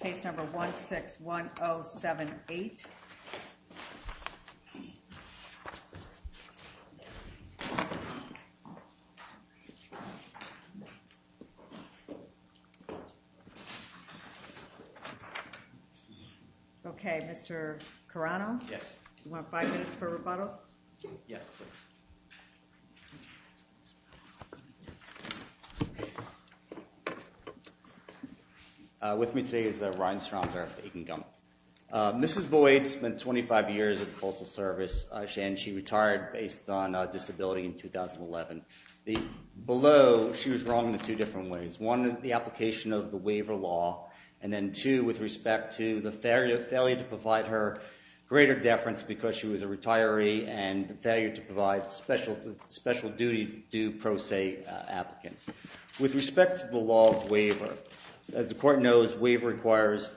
case number 161078. Okay, Mr. Carano? Yes. You want five minutes for rebuttal? Yes, please. With me today is Ryan Stromsdorf, Aiken Gummel. Mrs. Boyd spent 25 years in the Postal Service, and she retired based on a disability in 2011. Below, she was wrong in two different ways. One, the application of the waiver law, and then two, with respect to the failure to provide her greater deference because she was a retiree and the failure to provide special duty due pro se applicants. With respect to the law of waiver, as the Court knows, waiver requires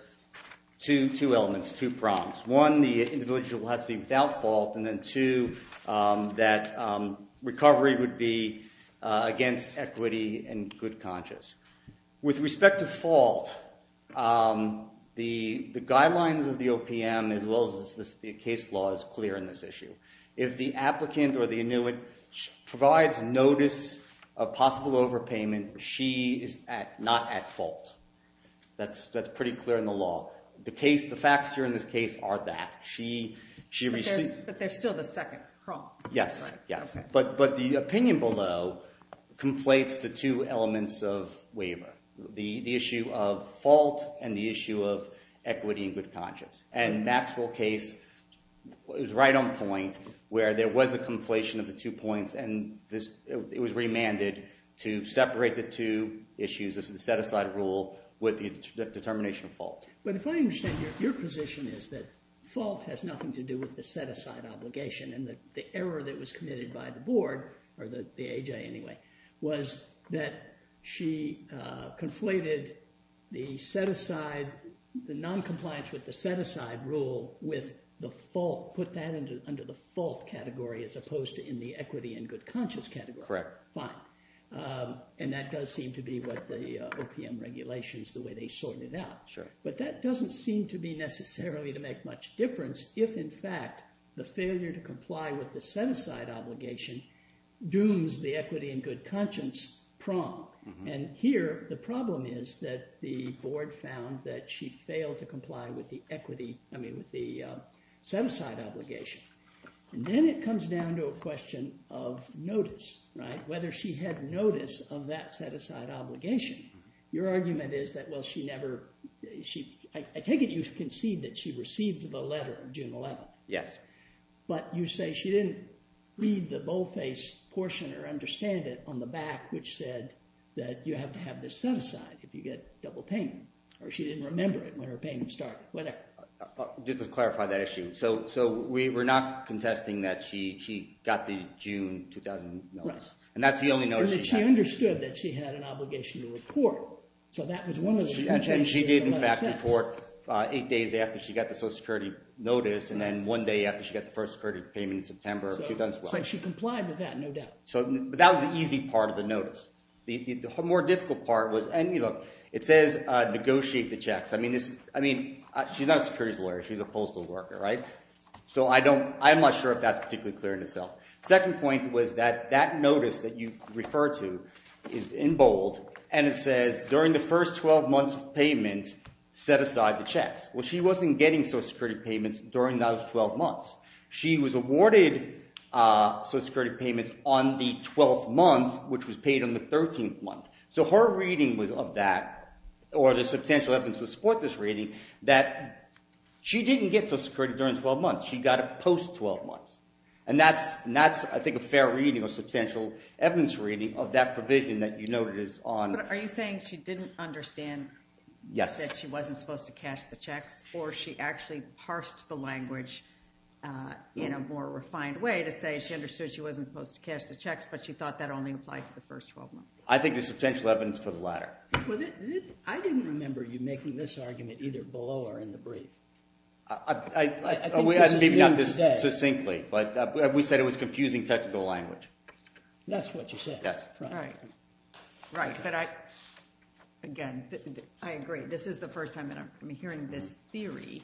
two elements, two prongs. One, the individual has to be without fault, and then two, that recovery would be against equity and good conscience. With respect to fault, the guidelines of the OPM, as well as the case law, is clear in this issue. If the applicant or the annuitant provides notice of possible overpayment, she is not at fault. That's pretty clear in the law. The facts here in this case are that. But there's still the second prong. Yes, yes. But the opinion below conflates the two elements of waiver, the issue of fault and the issue of equity and good conscience. And Maxwell's case was right on point where there was a conflation of the two points and it was remanded to separate the two issues of the set-aside rule with the determination of fault. But if I understand, your position is that fault has nothing to do with the set-aside obligation and that the error that was committed by the board, or the AJ anyway, was that she conflated the noncompliance with the set-aside rule with the fault, put that under the fault category as opposed to in the equity and good conscience category. Correct. Fine. And that does seem to be what the OPM regulations, the way they sort it out. Sure. But that doesn't seem to be necessarily to make much difference if, in fact, the failure to comply with the set-aside obligation dooms the equity and good conscience prong. And here, the problem is that the board found that she failed to comply with the equity, I mean, with the set-aside obligation. And then it comes down to a question of notice, right? Whether she had notice of that set-aside obligation. Your argument is that, well, she never... I take it you concede that she received the letter June 11th. Yes. But you say she didn't read the boldface portion or understand it on the back which said that you have to have this set-aside if you get double payment. Or she didn't remember it when her payment started, whatever. Just to clarify that issue. So we're not contesting that she got the June 2000 notice. Right. And that's the only notice she had. Or that she understood that she had an obligation to report. So that was one of the contentions. She did, in fact, report eight days after she got the Social Security notice and then one day after she got the Social Security payment in September of 2012. So she complied with that, no doubt. But that was the easy part of the notice. The more difficult part was... And, you know, it says negotiate the checks. I mean, she's not a securities lawyer. She's a postal worker, right? So I'm not sure if that's particularly clear in itself. Second point was that that notice that you refer to is in bold and it says during the first 12 months of payment, set aside the checks. Well, she wasn't getting Social Security payments during those 12 months. She was awarded Social Security payments on the 12th month, which was paid on the 13th month. So her reading of that, or the substantial evidence to support this reading, that she didn't get Social Security during 12 months. She got it post-12 months. And that's, I think, a fair reading or substantial evidence reading of that provision that you noted is on... Or she actually parsed the language in a more refined way to say she understood she wasn't supposed to cash the checks, but she thought that only applied to the first 12 months. I think there's substantial evidence for the latter. Well, I didn't remember you making this argument either below or in the brief. I think that's what you didn't say. Maybe not this succinctly, but we said it was confusing technical language. That's what you said. Yes. Right. Right, but I, again, I agree. This is the first time that I'm hearing this theory.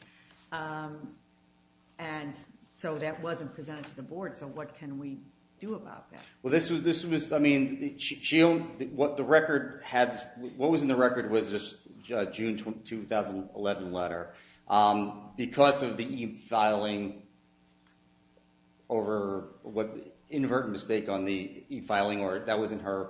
And so that wasn't presented to the board. So what can we do about that? Well, this was, I mean, what the record had, what was in the record was this June 2011 letter. Because of the e-filing over what, inadvertent mistake on the e-filing, or that wasn't her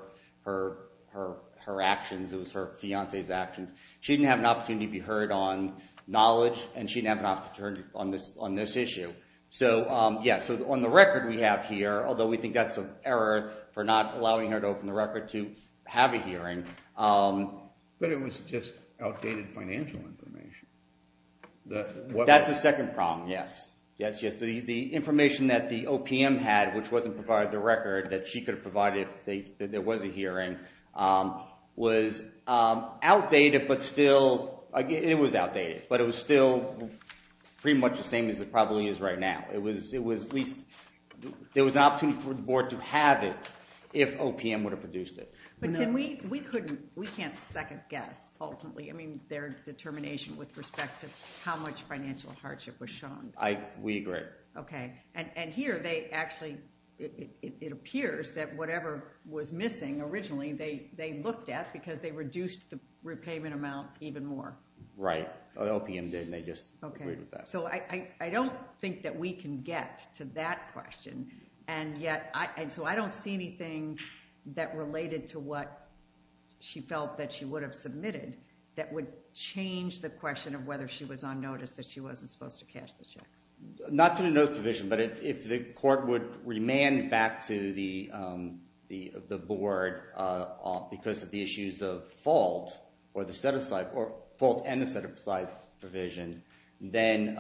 actions. It was her fiancé's actions. She didn't have an opportunity to be heard on knowledge, and she didn't have an opportunity on this issue. So, yes, on the record we have here, although we think that's an error for not allowing her to open the record to have a hearing. But it was just outdated financial information. That's the second problem, yes. Yes, yes, the information that the OPM had, which wasn't provided in the record, that she could have provided if there was a hearing, was outdated but still, it was outdated, but it was still pretty much the same as it probably is right now. It was at least, there was an opportunity for the board to have it if OPM would have produced it. But can we, we couldn't, we can't second guess ultimately, I mean, their determination with respect to how much financial hardship was shown. We agree. Okay, and here they actually, it appears that whatever was missing originally, they looked at because they reduced the repayment amount even more. Right. OPM did and they just agreed with that. Okay, so I don't think that we can get to that question. And yet, so I don't see anything that related to what she felt that she would have submitted that would change the question of whether she was on notice that she wasn't supposed to cash the checks. Not to the notice provision, but if the court would remand back to the board because of the issues of fault or the set-aside, or fault and the set-aside provision, then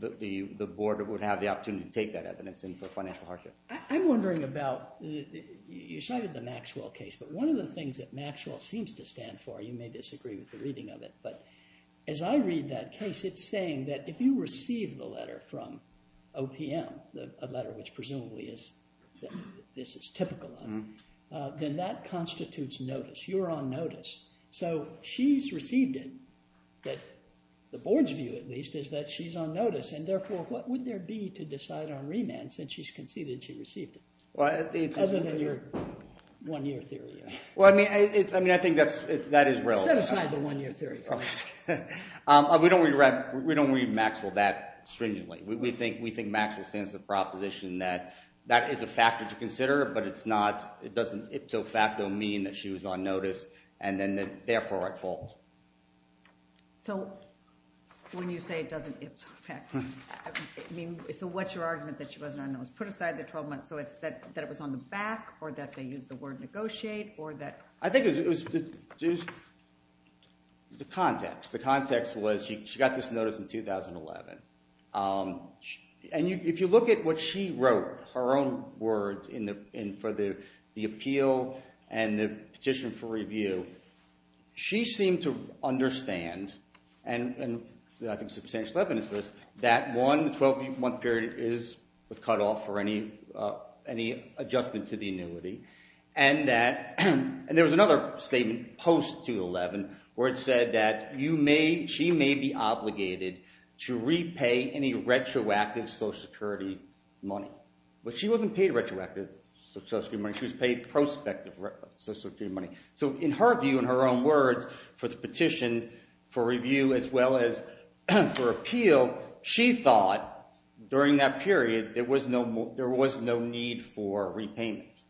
the board would have the opportunity to take that evidence in for financial hardship. I'm wondering about, you cited the Maxwell case, but one of the things that Maxwell seems to stand for, you may disagree with the reading of it, but as I read that case, it's saying that if you receive the letter from OPM, a letter which presumably this is typical of, then that constitutes notice. You're on notice. So she's received it, but the board's view at least is that she's on notice and therefore, what would there be to decide on remand since she's conceded she received it? Other than your one-year theory. Well, I mean, I think that is relevant. Set aside the one-year theory for us. We don't read Maxwell that stringently. We think Maxwell stands to the proposition that that is a factor to consider, but it's not, it doesn't ipso facto mean that she was on notice and then therefore at fault. So when you say it doesn't ipso facto mean, so what's your argument that she wasn't on notice? Put aside the 12 months, so it's that it was on the back, or that they used the word negotiate, or that… I think it was the context. The context was she got this notice in 2011, and if you look at what she wrote, her own words for the appeal and the petition for review, she seemed to understand, and I think substantial evidence for this, that one, the 12-month period is a cutoff for any adjustment to the annuity, and that, and there was another statement post-2011 where it said that you may, she may be obligated to repay any retroactive Social Security money. But she wasn't paid retroactive Social Security money, she was paid prospective Social Security money. So in her view, in her own words, for the petition for review as well as for appeal, she thought during that period there was no need for repayment.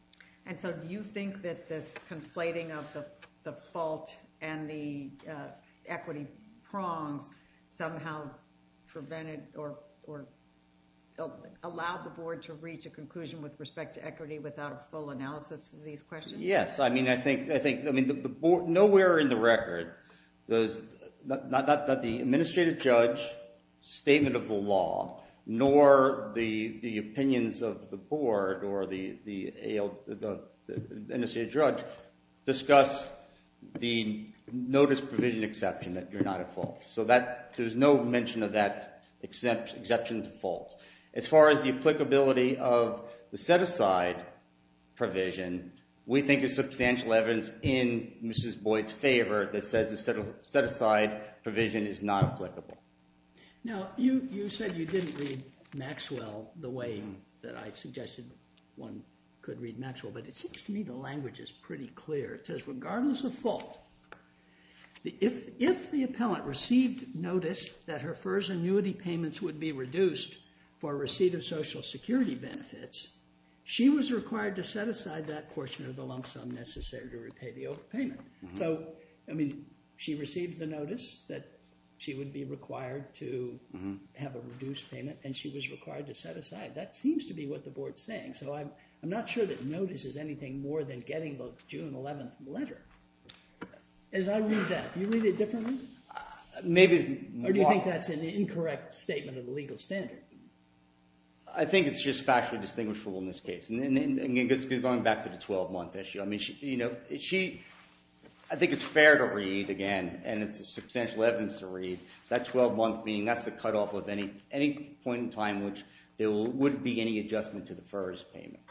And so do you think that this conflating of the fault and the equity prongs somehow prevented or allowed the board to reach a conclusion with respect to equity without a full analysis of these questions? Yes, I mean, I think, I mean, nowhere in the record does, not that the administrative judge statement of the law, nor the opinions of the board or the NSA judge discuss the notice provision exception that you're not at fault. So that, there's no mention of that exception to fault. As far as the applicability of the set-aside provision, we think there's substantial evidence in Mrs. Boyd's favor that says the set-aside provision is not applicable. Now, you said you didn't read Maxwell the way that I suggested one could read Maxwell. But it seems to me the language is pretty clear. It says, regardless of fault, if the appellant received notice that her FERS annuity payments would be reduced for receipt of Social Security benefits, she was required to set aside that portion of the lump sum necessary to repay the overpayment. So, I mean, she received the notice that she would be required to have a reduced payment, and she was required to set aside. That seems to be what the board's saying. So I'm not sure that notice is anything more than getting the June 11th letter. As I read that, do you read it differently? Maybe. Or do you think that's an incorrect statement of the legal standard? I think it's just factually distinguishable in this case. Going back to the 12-month issue, I mean, you know, I think it's fair to read again, and it's substantial evidence to read, that 12-month being that's the cutoff of any point in time which there wouldn't be any adjustment to the FERS payment.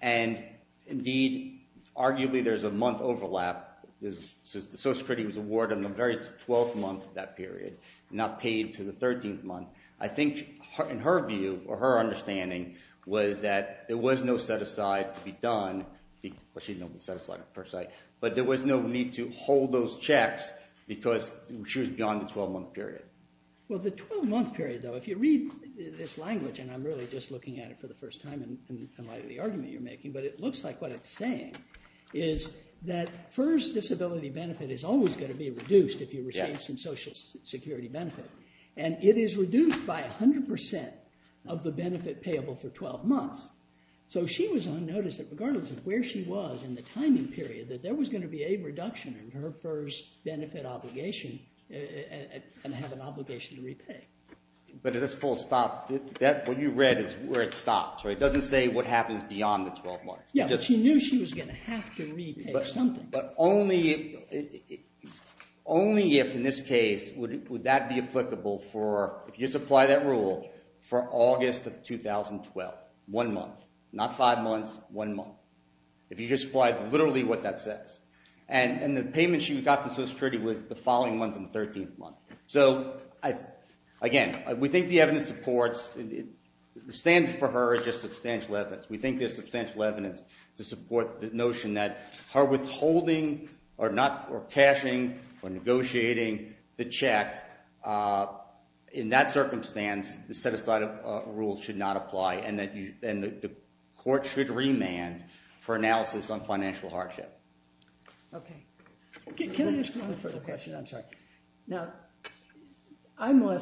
And, indeed, arguably there's a month overlap. The Social Security was awarded in the very 12th month of that period, not paid to the 13th month. I think, in her view, or her understanding, was that there was no set aside to be done. Well, she didn't know the set aside, per se. But there was no need to hold those checks because she was beyond the 12-month period. Well, the 12-month period, though, if you read this language, and I'm really just looking at it for the first time in light of the argument you're making, but it looks like what it's saying is that FERS disability benefit is always going to be reduced if you receive some Social Security benefit. And it is reduced by 100% of the benefit payable for 12 months. So she was on notice that regardless of where she was in the timing period that there was going to be a reduction in her FERS benefit obligation and have an obligation to repay. But at this full stop, what you read is where it stops, right? It doesn't say what happens beyond the 12 months. Yeah, but she knew she was going to have to repay something. But only if, in this case, would that be applicable for, if you supply that rule, for August of 2012. One month. Not five months, one month. If you just supply literally what that says. And the payment she got from Social Security was the following month and the 13th month. So, again, we think the evidence supports... The standard for her is just substantial evidence. We think there's substantial evidence to support the notion that her withholding or cashing or negotiating the check in that circumstance, the set-aside rule should not apply and the court should remand for analysis on financial hardship. Okay. Can I just... One further question. I'm sorry. Now, I'm a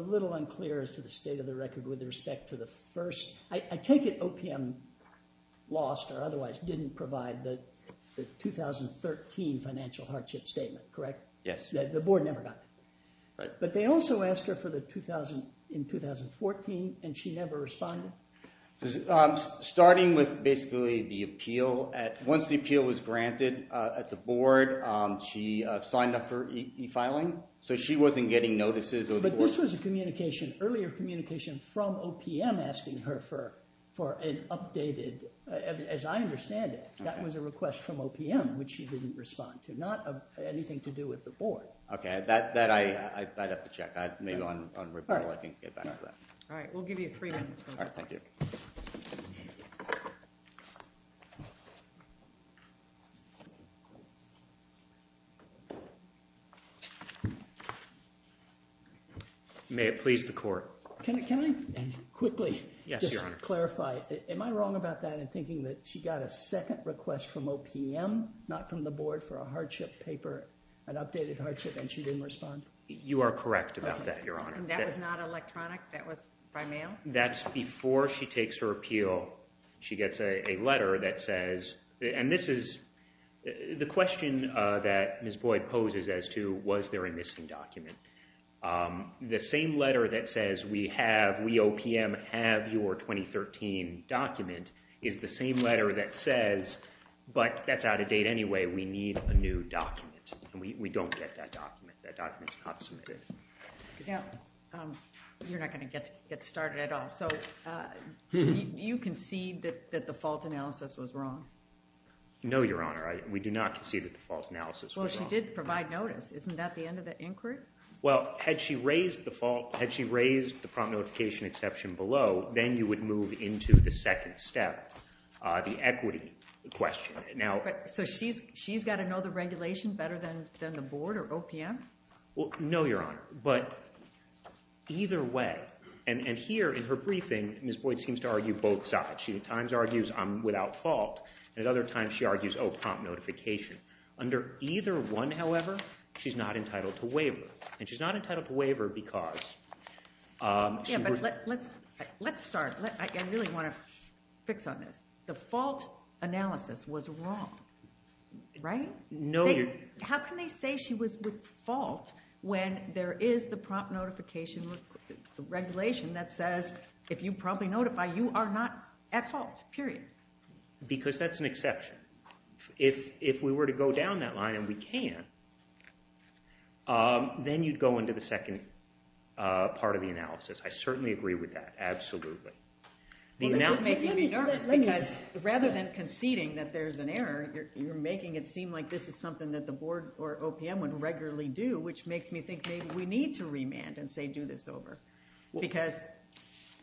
little unclear as to the state of the record with respect to the first... I take it OPM lost or otherwise didn't provide the 2013 financial hardship statement, correct? Yes. The board never got that. Right. But they also asked her for the 2014 and she never responded? Starting with basically the appeal... Once the appeal was granted at the board, she signed up for e-filing. So she wasn't getting notices or the board... But this was an earlier communication from OPM asking her for an updated, as I understand it, that was a request from OPM, which she didn't respond to. Not anything to do with the board. Okay. That I'd have to check. Maybe on report I can get back to that. All right. We'll give you three minutes. All right. Thank you. May it please the court. Can I quickly just clarify? Am I wrong about that in thinking that she got a second request from OPM, not from the board, for a hardship paper, an updated hardship, and she didn't respond? You are correct about that, Your Honor. And that was not electronic? That was by mail? That's before she takes her appeal. She gets a letter that says... And this is... The question that Ms. Boyd poses as to was there a missing document, the same letter that says, we have, we OPM have your 2013 document is the same letter that says, but that's out of date anyway, we need a new document. And we don't get that document. That document's not submitted. Now, you're not going to get started at all. So you concede that the fault analysis was wrong? No, Your Honor. We do not concede that the fault analysis was wrong. Well, she did provide notice. Isn't that the end of the inquiry? Well, had she raised the fault, had she raised the prompt notification exception below, then you would move into the second step, the equity question. So she's got to know the regulation better than the board or OPM? No, Your Honor. But either way, and here in her briefing, Ms. Boyd seems to argue both sides. She at times argues I'm without fault, and at other times she argues, oh, prompt notification. Under either one, however, she's not entitled to waiver. And she's not entitled to waiver because... Let's start. I really want to fix on this. The fault analysis was wrong, right? No, Your Honor. How can they say she was with fault when there is the prompt notification regulation that says if you promptly notify, you are not at fault, period? Because that's an exception. If we were to go down that line, and we can, then you'd go into the second part of the analysis. I certainly agree with that, absolutely. This is making me nervous because rather than conceding that there's an error, you're making it seem like this is something that the board or OPM would regularly do, which makes me think maybe we need to remand and say do this over because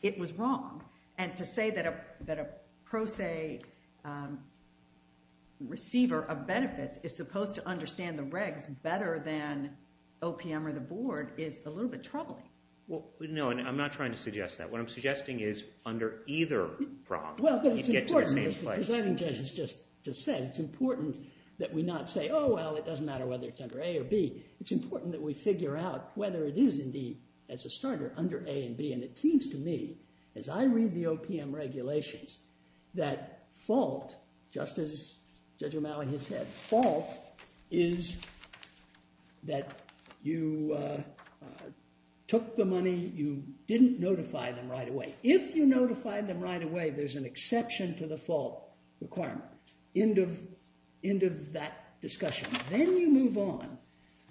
it was wrong. And to say that a pro se receiver of benefits is supposed to understand the regs better than OPM or the board is a little bit troubling. No, and I'm not trying to suggest that. What I'm suggesting is under either prompt, you get to the same place. Well, but it's important, as the presenting judge has just said, it's important that we not say, oh, well, it doesn't matter whether it's under A or B. It's important that we figure out whether it is indeed, as a starter, under A and B. And it seems to me, as I read the OPM regulations, that fault, just as Judge O'Malley has said, fault is that you took the money, you didn't notify them right away. If you notified them right away, there's an exception to the fault requirement. End of that discussion. Then you move on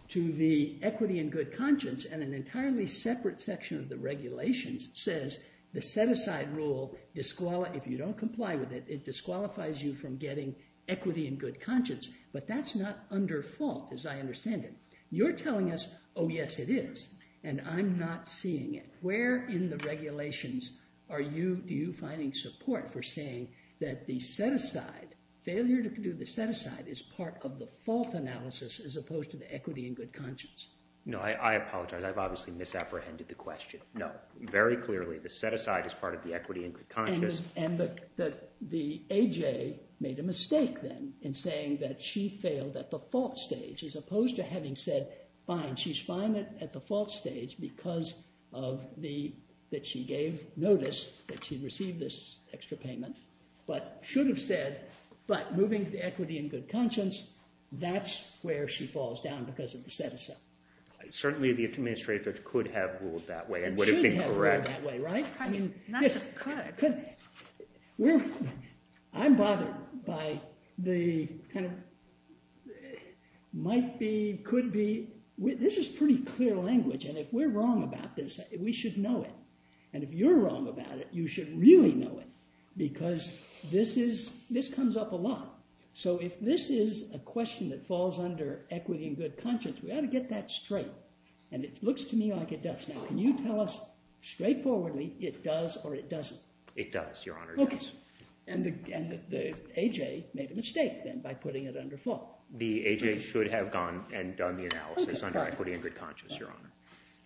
to the equity and good conscience and an entirely separate section of the regulations says the set-aside rule, if you don't comply with it, it disqualifies you from getting equity and good conscience, but that's not under fault, as I understand it. You're telling us, oh, yes, it is, and I'm not seeing it. Where in the regulations are you finding support for saying that the set-aside, failure to do the set-aside, is part of the fault analysis as opposed to the equity and good conscience? No, I apologize. I've obviously misapprehended the question. No, very clearly the set-aside is part of the equity and good conscience. And the AJ made a mistake then in saying that she failed at the fault stage as opposed to having said, fine, she's fine at the fault stage because of the, that she gave notice that she received this extra payment, but should have said, but moving to the equity and good conscience, that's where she falls down because of the set-aside. Certainly the administrative judge could have ruled that way and would have been correct. And should have ruled that way, right? Not just could. I'm bothered by the kind of might be, could be, this is pretty clear language, and if we're wrong about this, we should know it. And if you're wrong about it, you should really know it because this comes up a lot. So if this is a question that falls under equity and good conscience, we ought to get that straight. And it looks to me like it does. Now, can you tell us straightforwardly it does or it doesn't? It does, Your Honor, it does. Okay. And the AJ made a mistake then by putting it under fault. The AJ should have gone and done the analysis under equity and good conscience, Your Honor.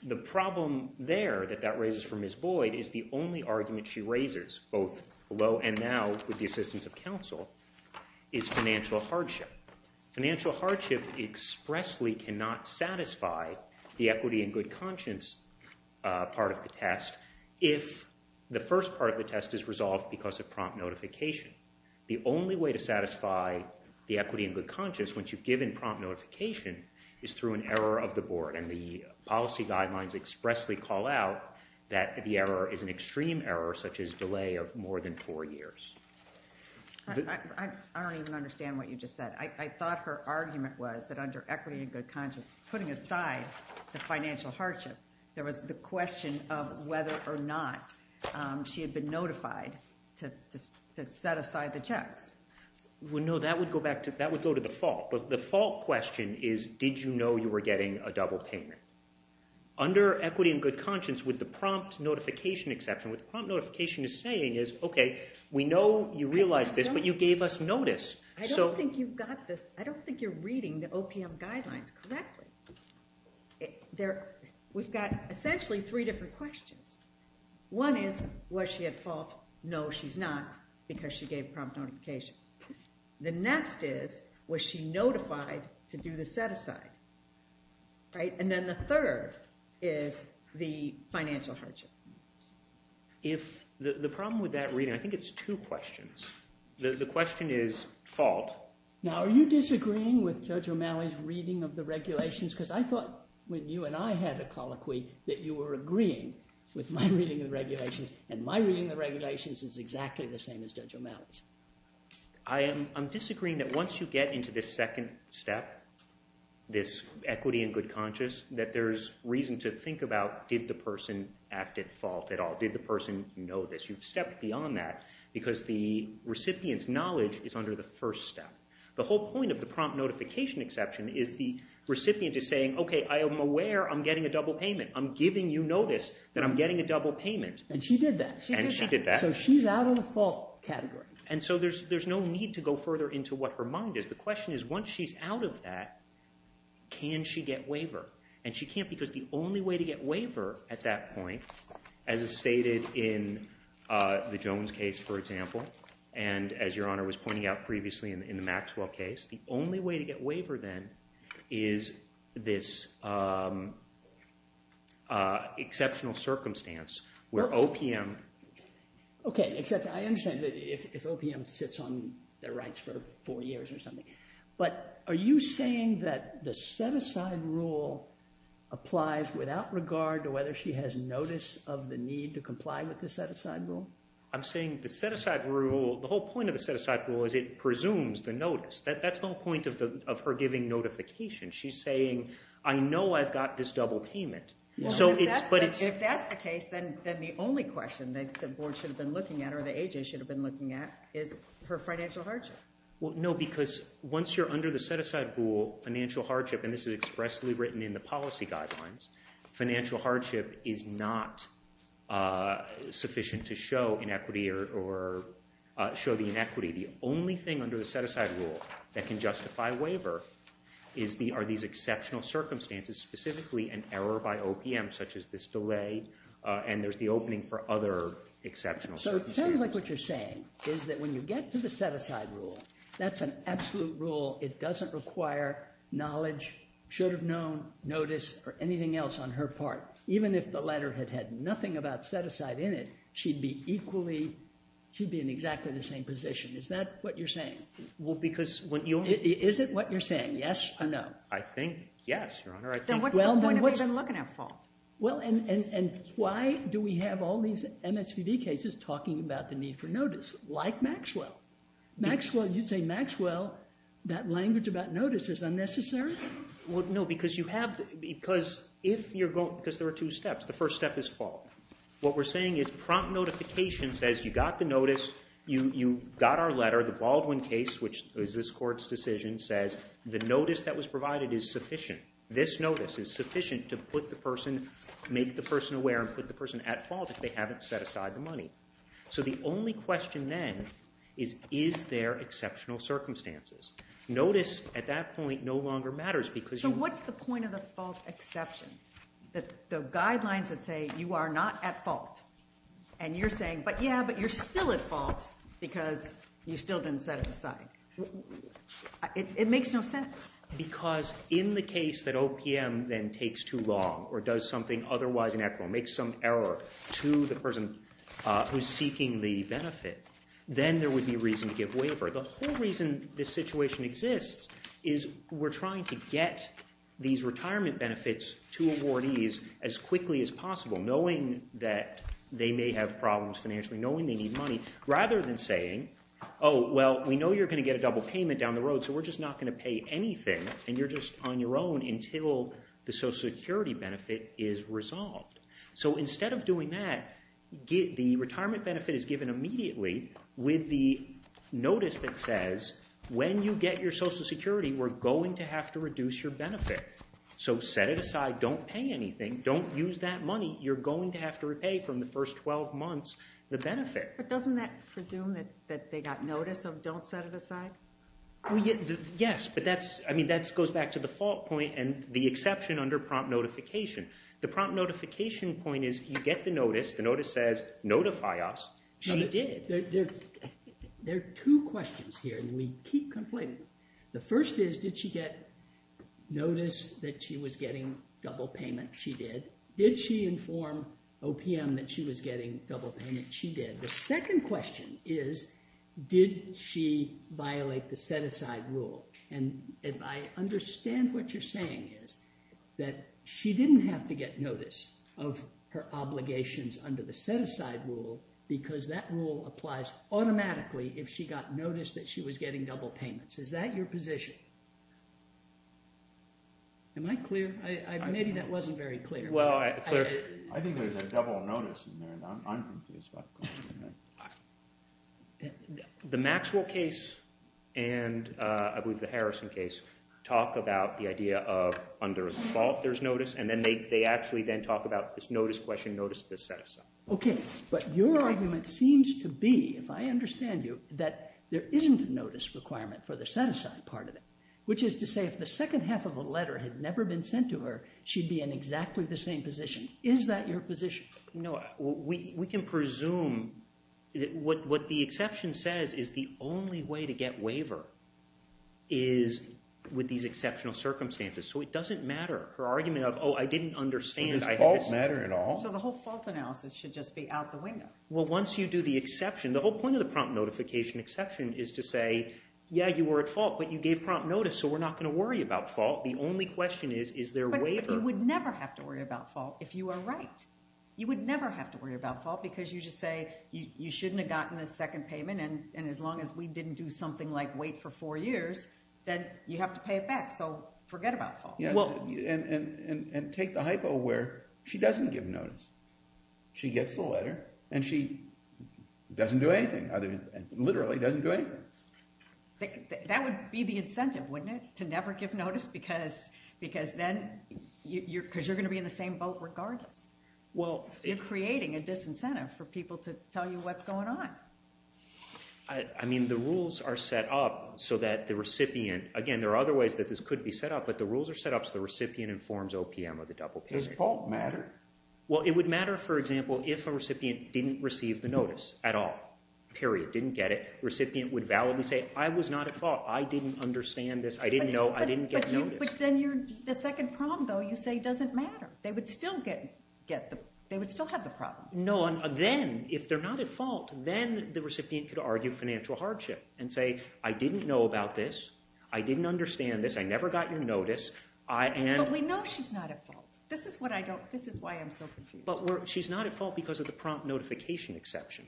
The problem there that that raises for Ms. Boyd is the only argument she raises, both below and now with the assistance of counsel, is financial hardship. Financial hardship expressly cannot satisfy the equity and good conscience part of the test if the first part of the test is resolved because of prompt notification. The only way to satisfy the equity and good conscience once you've given prompt notification is through an error of the board, and the policy guidelines expressly call out that the error is an extreme error such as delay of more than four years. I don't even understand what you just said. I thought her argument was that under equity and good conscience, putting aside the financial hardship, there was the question of whether or not she had been notified to set aside the checks. Well, no, that would go to the fault, but the fault question is, did you know you were getting a double payment? Under equity and good conscience, with the prompt notification exception, what the prompt notification is saying is, okay, we know you realized this, but you gave us notice. I don't think you've got this. I don't think you're reading the OPM guidelines correctly. We've got essentially three different questions. One is, was she at fault? No, she's not, because she gave prompt notification. The next is, was she notified to do the set-aside? And then the third is the financial hardship. The problem with that reading, I think it's two questions. The question is fault. Now, are you disagreeing with Judge O'Malley's reading of the regulations? Because I thought when you and I had a colloquy that you were agreeing with my reading of the regulations, and my reading of the regulations is exactly the same as Judge O'Malley's. I'm disagreeing that once you get into this second step, this equity and good conscience, that there's reason to think about, did the person act at fault at all? Did the person know this? You've stepped beyond that, because the recipient's knowledge is under the first step. The whole point of the prompt notification exception is the recipient is saying, okay, I am aware I'm getting a double payment. I'm giving you notice that I'm getting a double payment. And she did that. And she did that. So she's out of the fault category. And so there's no need to go further into what her mind is. The question is, once she's out of that, can she get waiver? And she can't, because the only way to get waiver at that point, as is stated in the Jones case, for example, and as Your Honor was pointing out previously in the Maxwell case, the only way to get waiver then is this exceptional circumstance where OPM... Okay, except I understand that if OPM sits on their rights for four years or something. But are you saying that the set-aside rule applies without regard to whether she has notice of the need to comply with the set-aside rule? I'm saying the set-aside rule, the whole point of the set-aside rule is it presumes the notice. That's no point of her giving notification. She's saying, I know I've got this double payment. If that's the case, then the only question that the board should have been looking at or the AJ should have been looking at is her financial hardship. No, because once you're under the set-aside rule, financial hardship, and this is expressly written in the policy guidelines, financial hardship is not sufficient to show inequity or show the inequity. The only thing under the set-aside rule that can justify waiver are these exceptional circumstances, specifically an error by OPM, such as this delay, and there's the opening for other exceptional circumstances. So it sounds like what you're saying is that when you get to the set-aside rule, that's an absolute rule. It doesn't require knowledge, should have known, notice, or anything else on her part. Even if the letter had had nothing about set-aside in it, she'd be equally, she'd be in exactly the same position. Is that what you're saying? Well, because when you... Is it what you're saying, yes or no? I think yes, Your Honor. Then what's the point of even looking at fault? Well, and why do we have all these MSPB cases talking about the need for notice, like Maxwell? Maxwell, you'd say, Maxwell, that language about notice is unnecessary? Well, no, because you have... Because if you're going... Because there are two steps. The first step is fault. What we're saying is prompt notification says you got the notice, you got our letter, the Baldwin case, which is this court's decision, says the notice that was provided is sufficient. This notice is sufficient to put the person, make the person aware and put the person at fault if they haven't set aside the money. So the only question then is, is there exceptional circumstances? Notice at that point no longer matters because... So what's the point of the fault exception? The guidelines that say you are not at fault and you're saying, but yeah, but you're still at fault because you still didn't set it aside. It makes no sense. Because in the case that OPM then takes too long or does something otherwise inequal, makes some error to the person who's seeking the benefit, then there would be reason to give waiver. The whole reason this situation exists is we're trying to get these retirement benefits to awardees as quickly as possible, knowing that they may have problems financially, knowing they need money, rather than saying, oh, well, we know you're going to get a double payment down the road, so we're just not going to pay anything and you're just on your own until the Social Security benefit is resolved. So instead of doing that, the retirement benefit is given immediately with the notice that says when you get your Social Security, we're going to have to reduce your benefit. So set it aside, don't pay anything, don't use that money, you're going to have to repay from the first 12 months the benefit. But doesn't that presume that they got notice of don't set it aside? Yes, but that goes back to the fault point and the exception under prompt notification. The prompt notification point is you get the notice, the notice says, notify us, she did. There are two questions here, and we keep complaining. The first is, did she get notice that she was getting double payment? She did. Did she inform OPM that she was getting double payment? She did. The second question is, did she violate the set aside rule? And I understand what you're saying is that she didn't have to get notice of her obligations under the set aside rule because that rule applies automatically if she got notice that she was getting double payments. Is that your position? Am I clear? Maybe that wasn't very clear. Well, I think there's a double notice in there and I'm confused by the question. The Maxwell case and I believe the Harrison case talk about the idea of under a fault there's notice and then they actually then talk about this notice question, notice of the set aside. Okay, but your argument seems to be, if I understand you, that there isn't a notice requirement for the set aside part of it, which is to say if the second half of a letter had never been sent to her, she'd be in exactly the same position. Is that your position? No, we can presume that what the exception says is the only way to get waiver is with these exceptional circumstances. So it doesn't matter. Her argument of, oh, I didn't understand. Does fault matter at all? So the whole fault analysis should just be out the window. Well, once you do the exception, the whole point of the prompt notification exception is to say, yeah, you were at fault but you gave prompt notice so we're not going to worry about fault. The only question is, is there waiver? But you would never have to worry about fault if you are right. You would never have to worry about fault because you just say you shouldn't have gotten a second payment and as long as we didn't do something like wait for four years, then you have to pay it back. So forget about fault. And take the hypo where she doesn't give notice. She gets the letter and she doesn't do anything. Literally doesn't do anything. That would be the incentive, wouldn't it? To never give notice because you're going to be in the same boat regardless. You're creating a disincentive for people to tell you what's going on. I mean, the rules are set up so that the recipient, again, there are other ways that this could be set up, but the rules are set up so the recipient informs OPM of the double payment. Does fault matter? Well, it would matter, for example, if a recipient didn't receive the notice at all. Period. Didn't get it. Recipient would validly say, I was not at fault. I didn't understand this. I didn't know. I didn't get notice. But then the second prompt, though, you say doesn't matter. They would still have the problem. No, then, if they're not at fault, then the recipient could argue financial hardship and say, I didn't know about this. I didn't understand this. I never got your notice. But we know she's not at fault. This is why I'm so confused. But she's not at fault because of the prompt notification exception.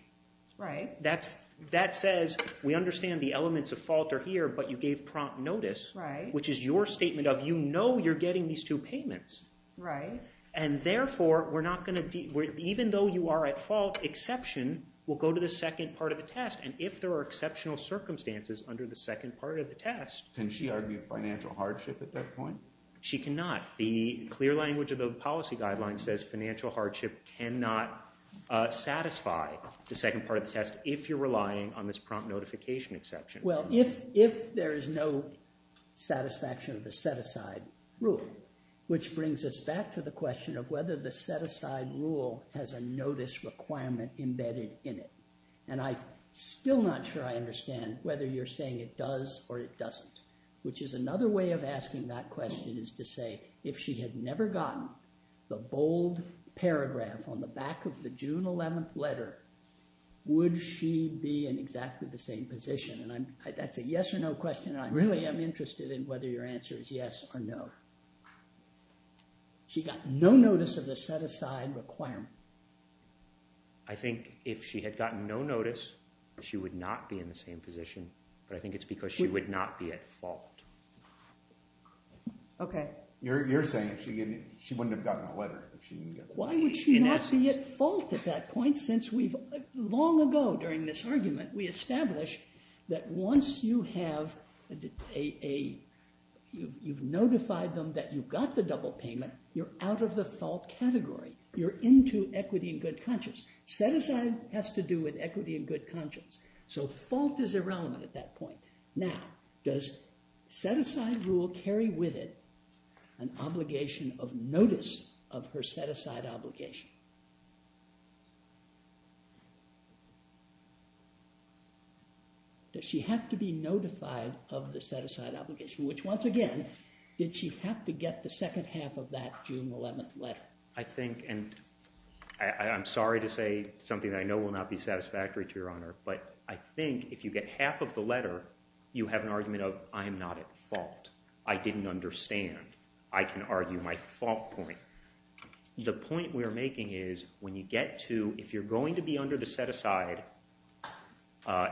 Right. That says we understand the elements of fault are here, but you gave prompt notice, which is your statement of you know you're getting these two payments. Right. And therefore, we're not going to, even though you are at fault, exception will go to the second part of the test. And if there are exceptional circumstances under the second part of the test. Can she argue financial hardship at that point? She cannot. The clear language of the policy guideline says financial hardship cannot satisfy the second part of the test if you're relying on this prompt notification exception. Well, if there is no satisfaction of the set-aside rule, which brings us back to the question of whether the set-aside rule has a notice requirement embedded in it. And I'm still not sure I understand whether you're saying it does or it doesn't, which is another way of asking that question is to say if she had never gotten the bold paragraph on the back of the June 11th letter, would she be in exactly the same position? And that's a yes or no question. Really, I'm interested in whether your answer is yes or no. She got no notice of the set-aside requirement. I think if she had gotten no notice, she would not be in the same position, but I think it's because she would not be at fault. Okay. You're saying she wouldn't have gotten the letter. Why would she not be at fault at that point since long ago during this argument, we established that once you have a... you've notified them that you've got the double payment, you're out of the fault category. You're into equity and good conscience. Set-aside has to do with equity and good conscience. So fault is irrelevant at that point. Now, does set-aside rule carry with it an obligation of notice of her set-aside obligation? Does she have to be notified of the set-aside obligation? Which, once again, did she have to get the second half of that June 11th letter? I think, and I'm sorry to say something that I know will not be satisfactory to Your Honor, but I think if you get half of the letter, you have an argument of, I'm not at fault. I didn't understand. I can argue my fault point. The point we're making is when you get to... especially under the set-aside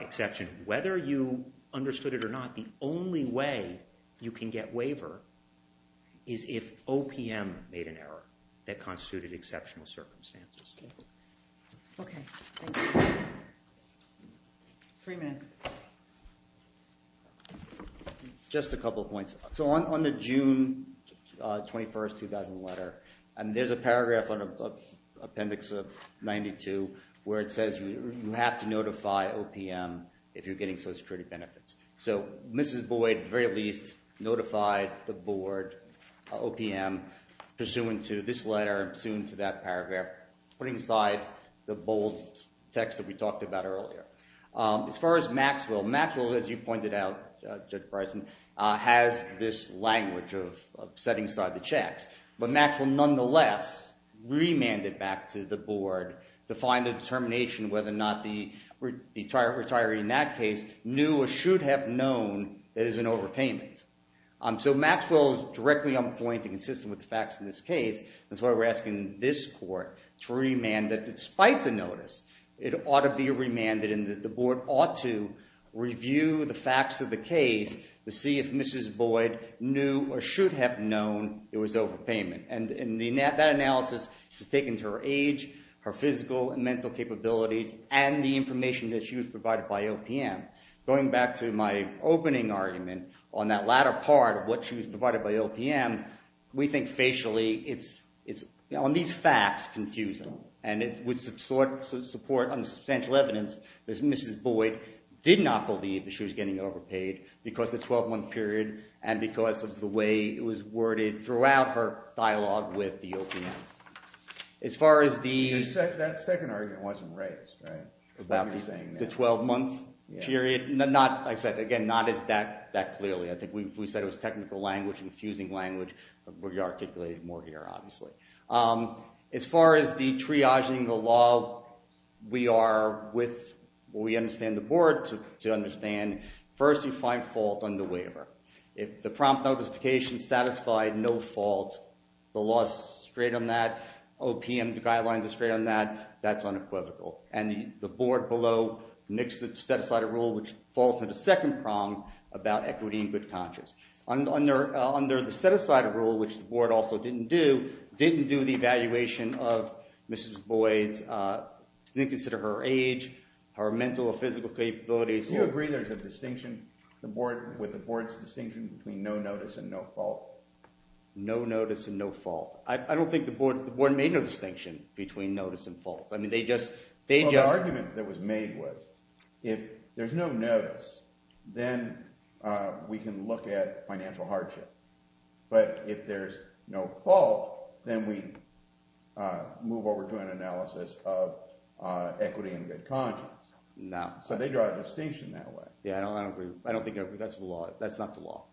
exception, whether you understood it or not, the only way you can get waiver is if OPM made an error that constituted exceptional circumstances. Okay, thank you. Three minutes. Just a couple points. So on the June 21st, 2000 letter, and there's a paragraph on Appendix 92 where it says you have to notify OPM if you're getting Social Security benefits. So Mrs. Boyd, at the very least, notified the board, OPM, pursuant to this letter, pursuant to that paragraph, putting aside the bold text that we talked about earlier. As far as Maxwell, Maxwell, as you pointed out, Judge Bryson, has this language of setting aside the checks, but Maxwell, nonetheless, remanded back to the board to find a determination whether or not the retiree in that case knew or should have known that it was an overpayment. So Maxwell is directly going to consistent with the facts in this case. That's why we're asking this court to remand that despite the notice, it ought to be remanded and that the board ought to review the facts of the case to see if Mrs. Boyd knew or should have known it was overpayment. And that analysis is taken to her age, her physical and mental capabilities, and the information that she was provided by OPM. Going back to my opening argument on that latter part of what she was provided by OPM, we think facially it's, on these facts, confusing. And it would support unsubstantial evidence that Mrs. Boyd did not believe that she was getting overpaid because of the 12-month period and because of the way it was worded throughout her dialogue with the OPM. As far as the... That second argument wasn't raised, right? About the 12-month period? Not, like I said, again, not as that clearly. I think we said it was technical language, confusing language, but we articulated it more here, obviously. As far as the triaging the law, we are with, we understand the board to understand first you find fault on the waiver. If the prompt notification satisfied no fault, the law's straight on that, OPM guidelines are straight on that, that's unequivocal. And the board below nixed the set-aside rule, which falls into the second prong about equity and good conscience. Under the set-aside rule, which the board also didn't do, didn't do the evaluation of Mrs. Boyd's... Didn't consider her age, her mental or physical capabilities... Do you agree there's a distinction with the board's distinction between no notice and no fault? No notice and no fault. I don't think the board made no distinction between notice and fault. The argument that was made was if there's no notice, then we can look at financial hardship. But if there's no fault, then we move over to an analysis of equity and good conscience. No. So they draw a distinction that way. Yeah, I don't think that's the law. That's not the law.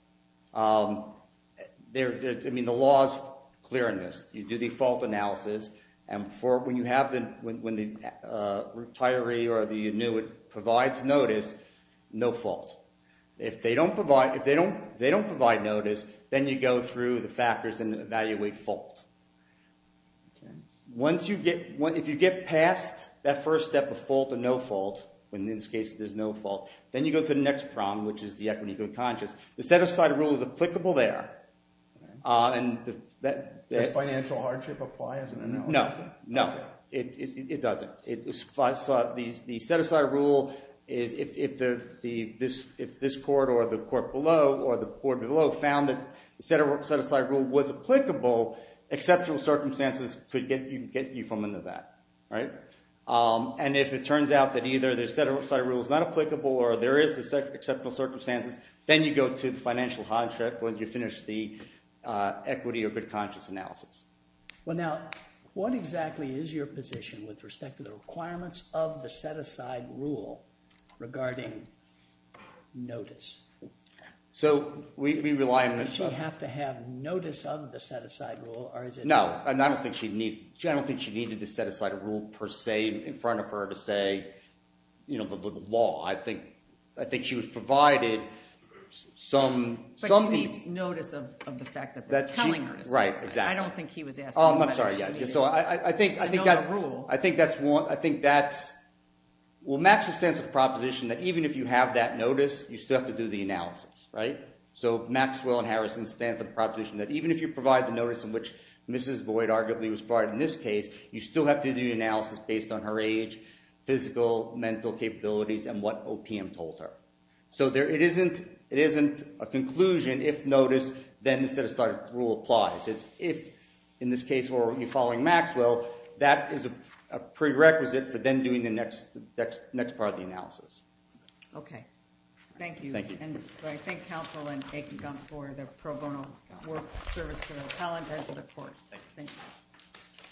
I mean, the law's clear on this. You do the fault analysis, and when the retiree or the annuit provides notice, no fault. If they don't provide notice, then you go through the factors and evaluate fault. Once you get... In this case, there's no fault. Then you go to the next problem, which is the equity and good conscience. The set-aside rule is applicable there. Does financial hardship apply as an analysis? No, it doesn't. The set-aside rule is... If this court or the court below found that the set-aside rule was applicable, exceptional circumstances could get you from under that. And if it turns out that either the set-aside rule is not applicable or there is exceptional circumstances, then you go to the financial hardship when you finish the equity or good conscience analysis. Well, now, what exactly is your position with respect to the requirements of the set-aside rule regarding notice? So we rely on... Does she have to have notice of the set-aside rule? No, and I don't think she'd need... in front of her to say, you know, the law. I think she was provided some... But she needs notice of the fact that they're telling her. I don't think he was asking whether she needed to know the rule. I think that's... Well, Maxwell stands for the proposition that even if you have that notice, you still have to do the analysis, right? So Maxwell and Harrison stand for the proposition that even if you provide the notice in which Mrs. Boyd arguably was provided in this case, you still have to do the analysis based on her age, physical, mental capabilities, and what OPM told her. So there isn't... It isn't a conclusion if notice, then the set-aside rule applies. It's if, in this case, you're following Maxwell, that is a prerequisite for then doing the next part of the analysis. Okay. Thank you. And I thank counsel and A.P. Gump for their pro bono work, service, and talent, and to the court. Thank you.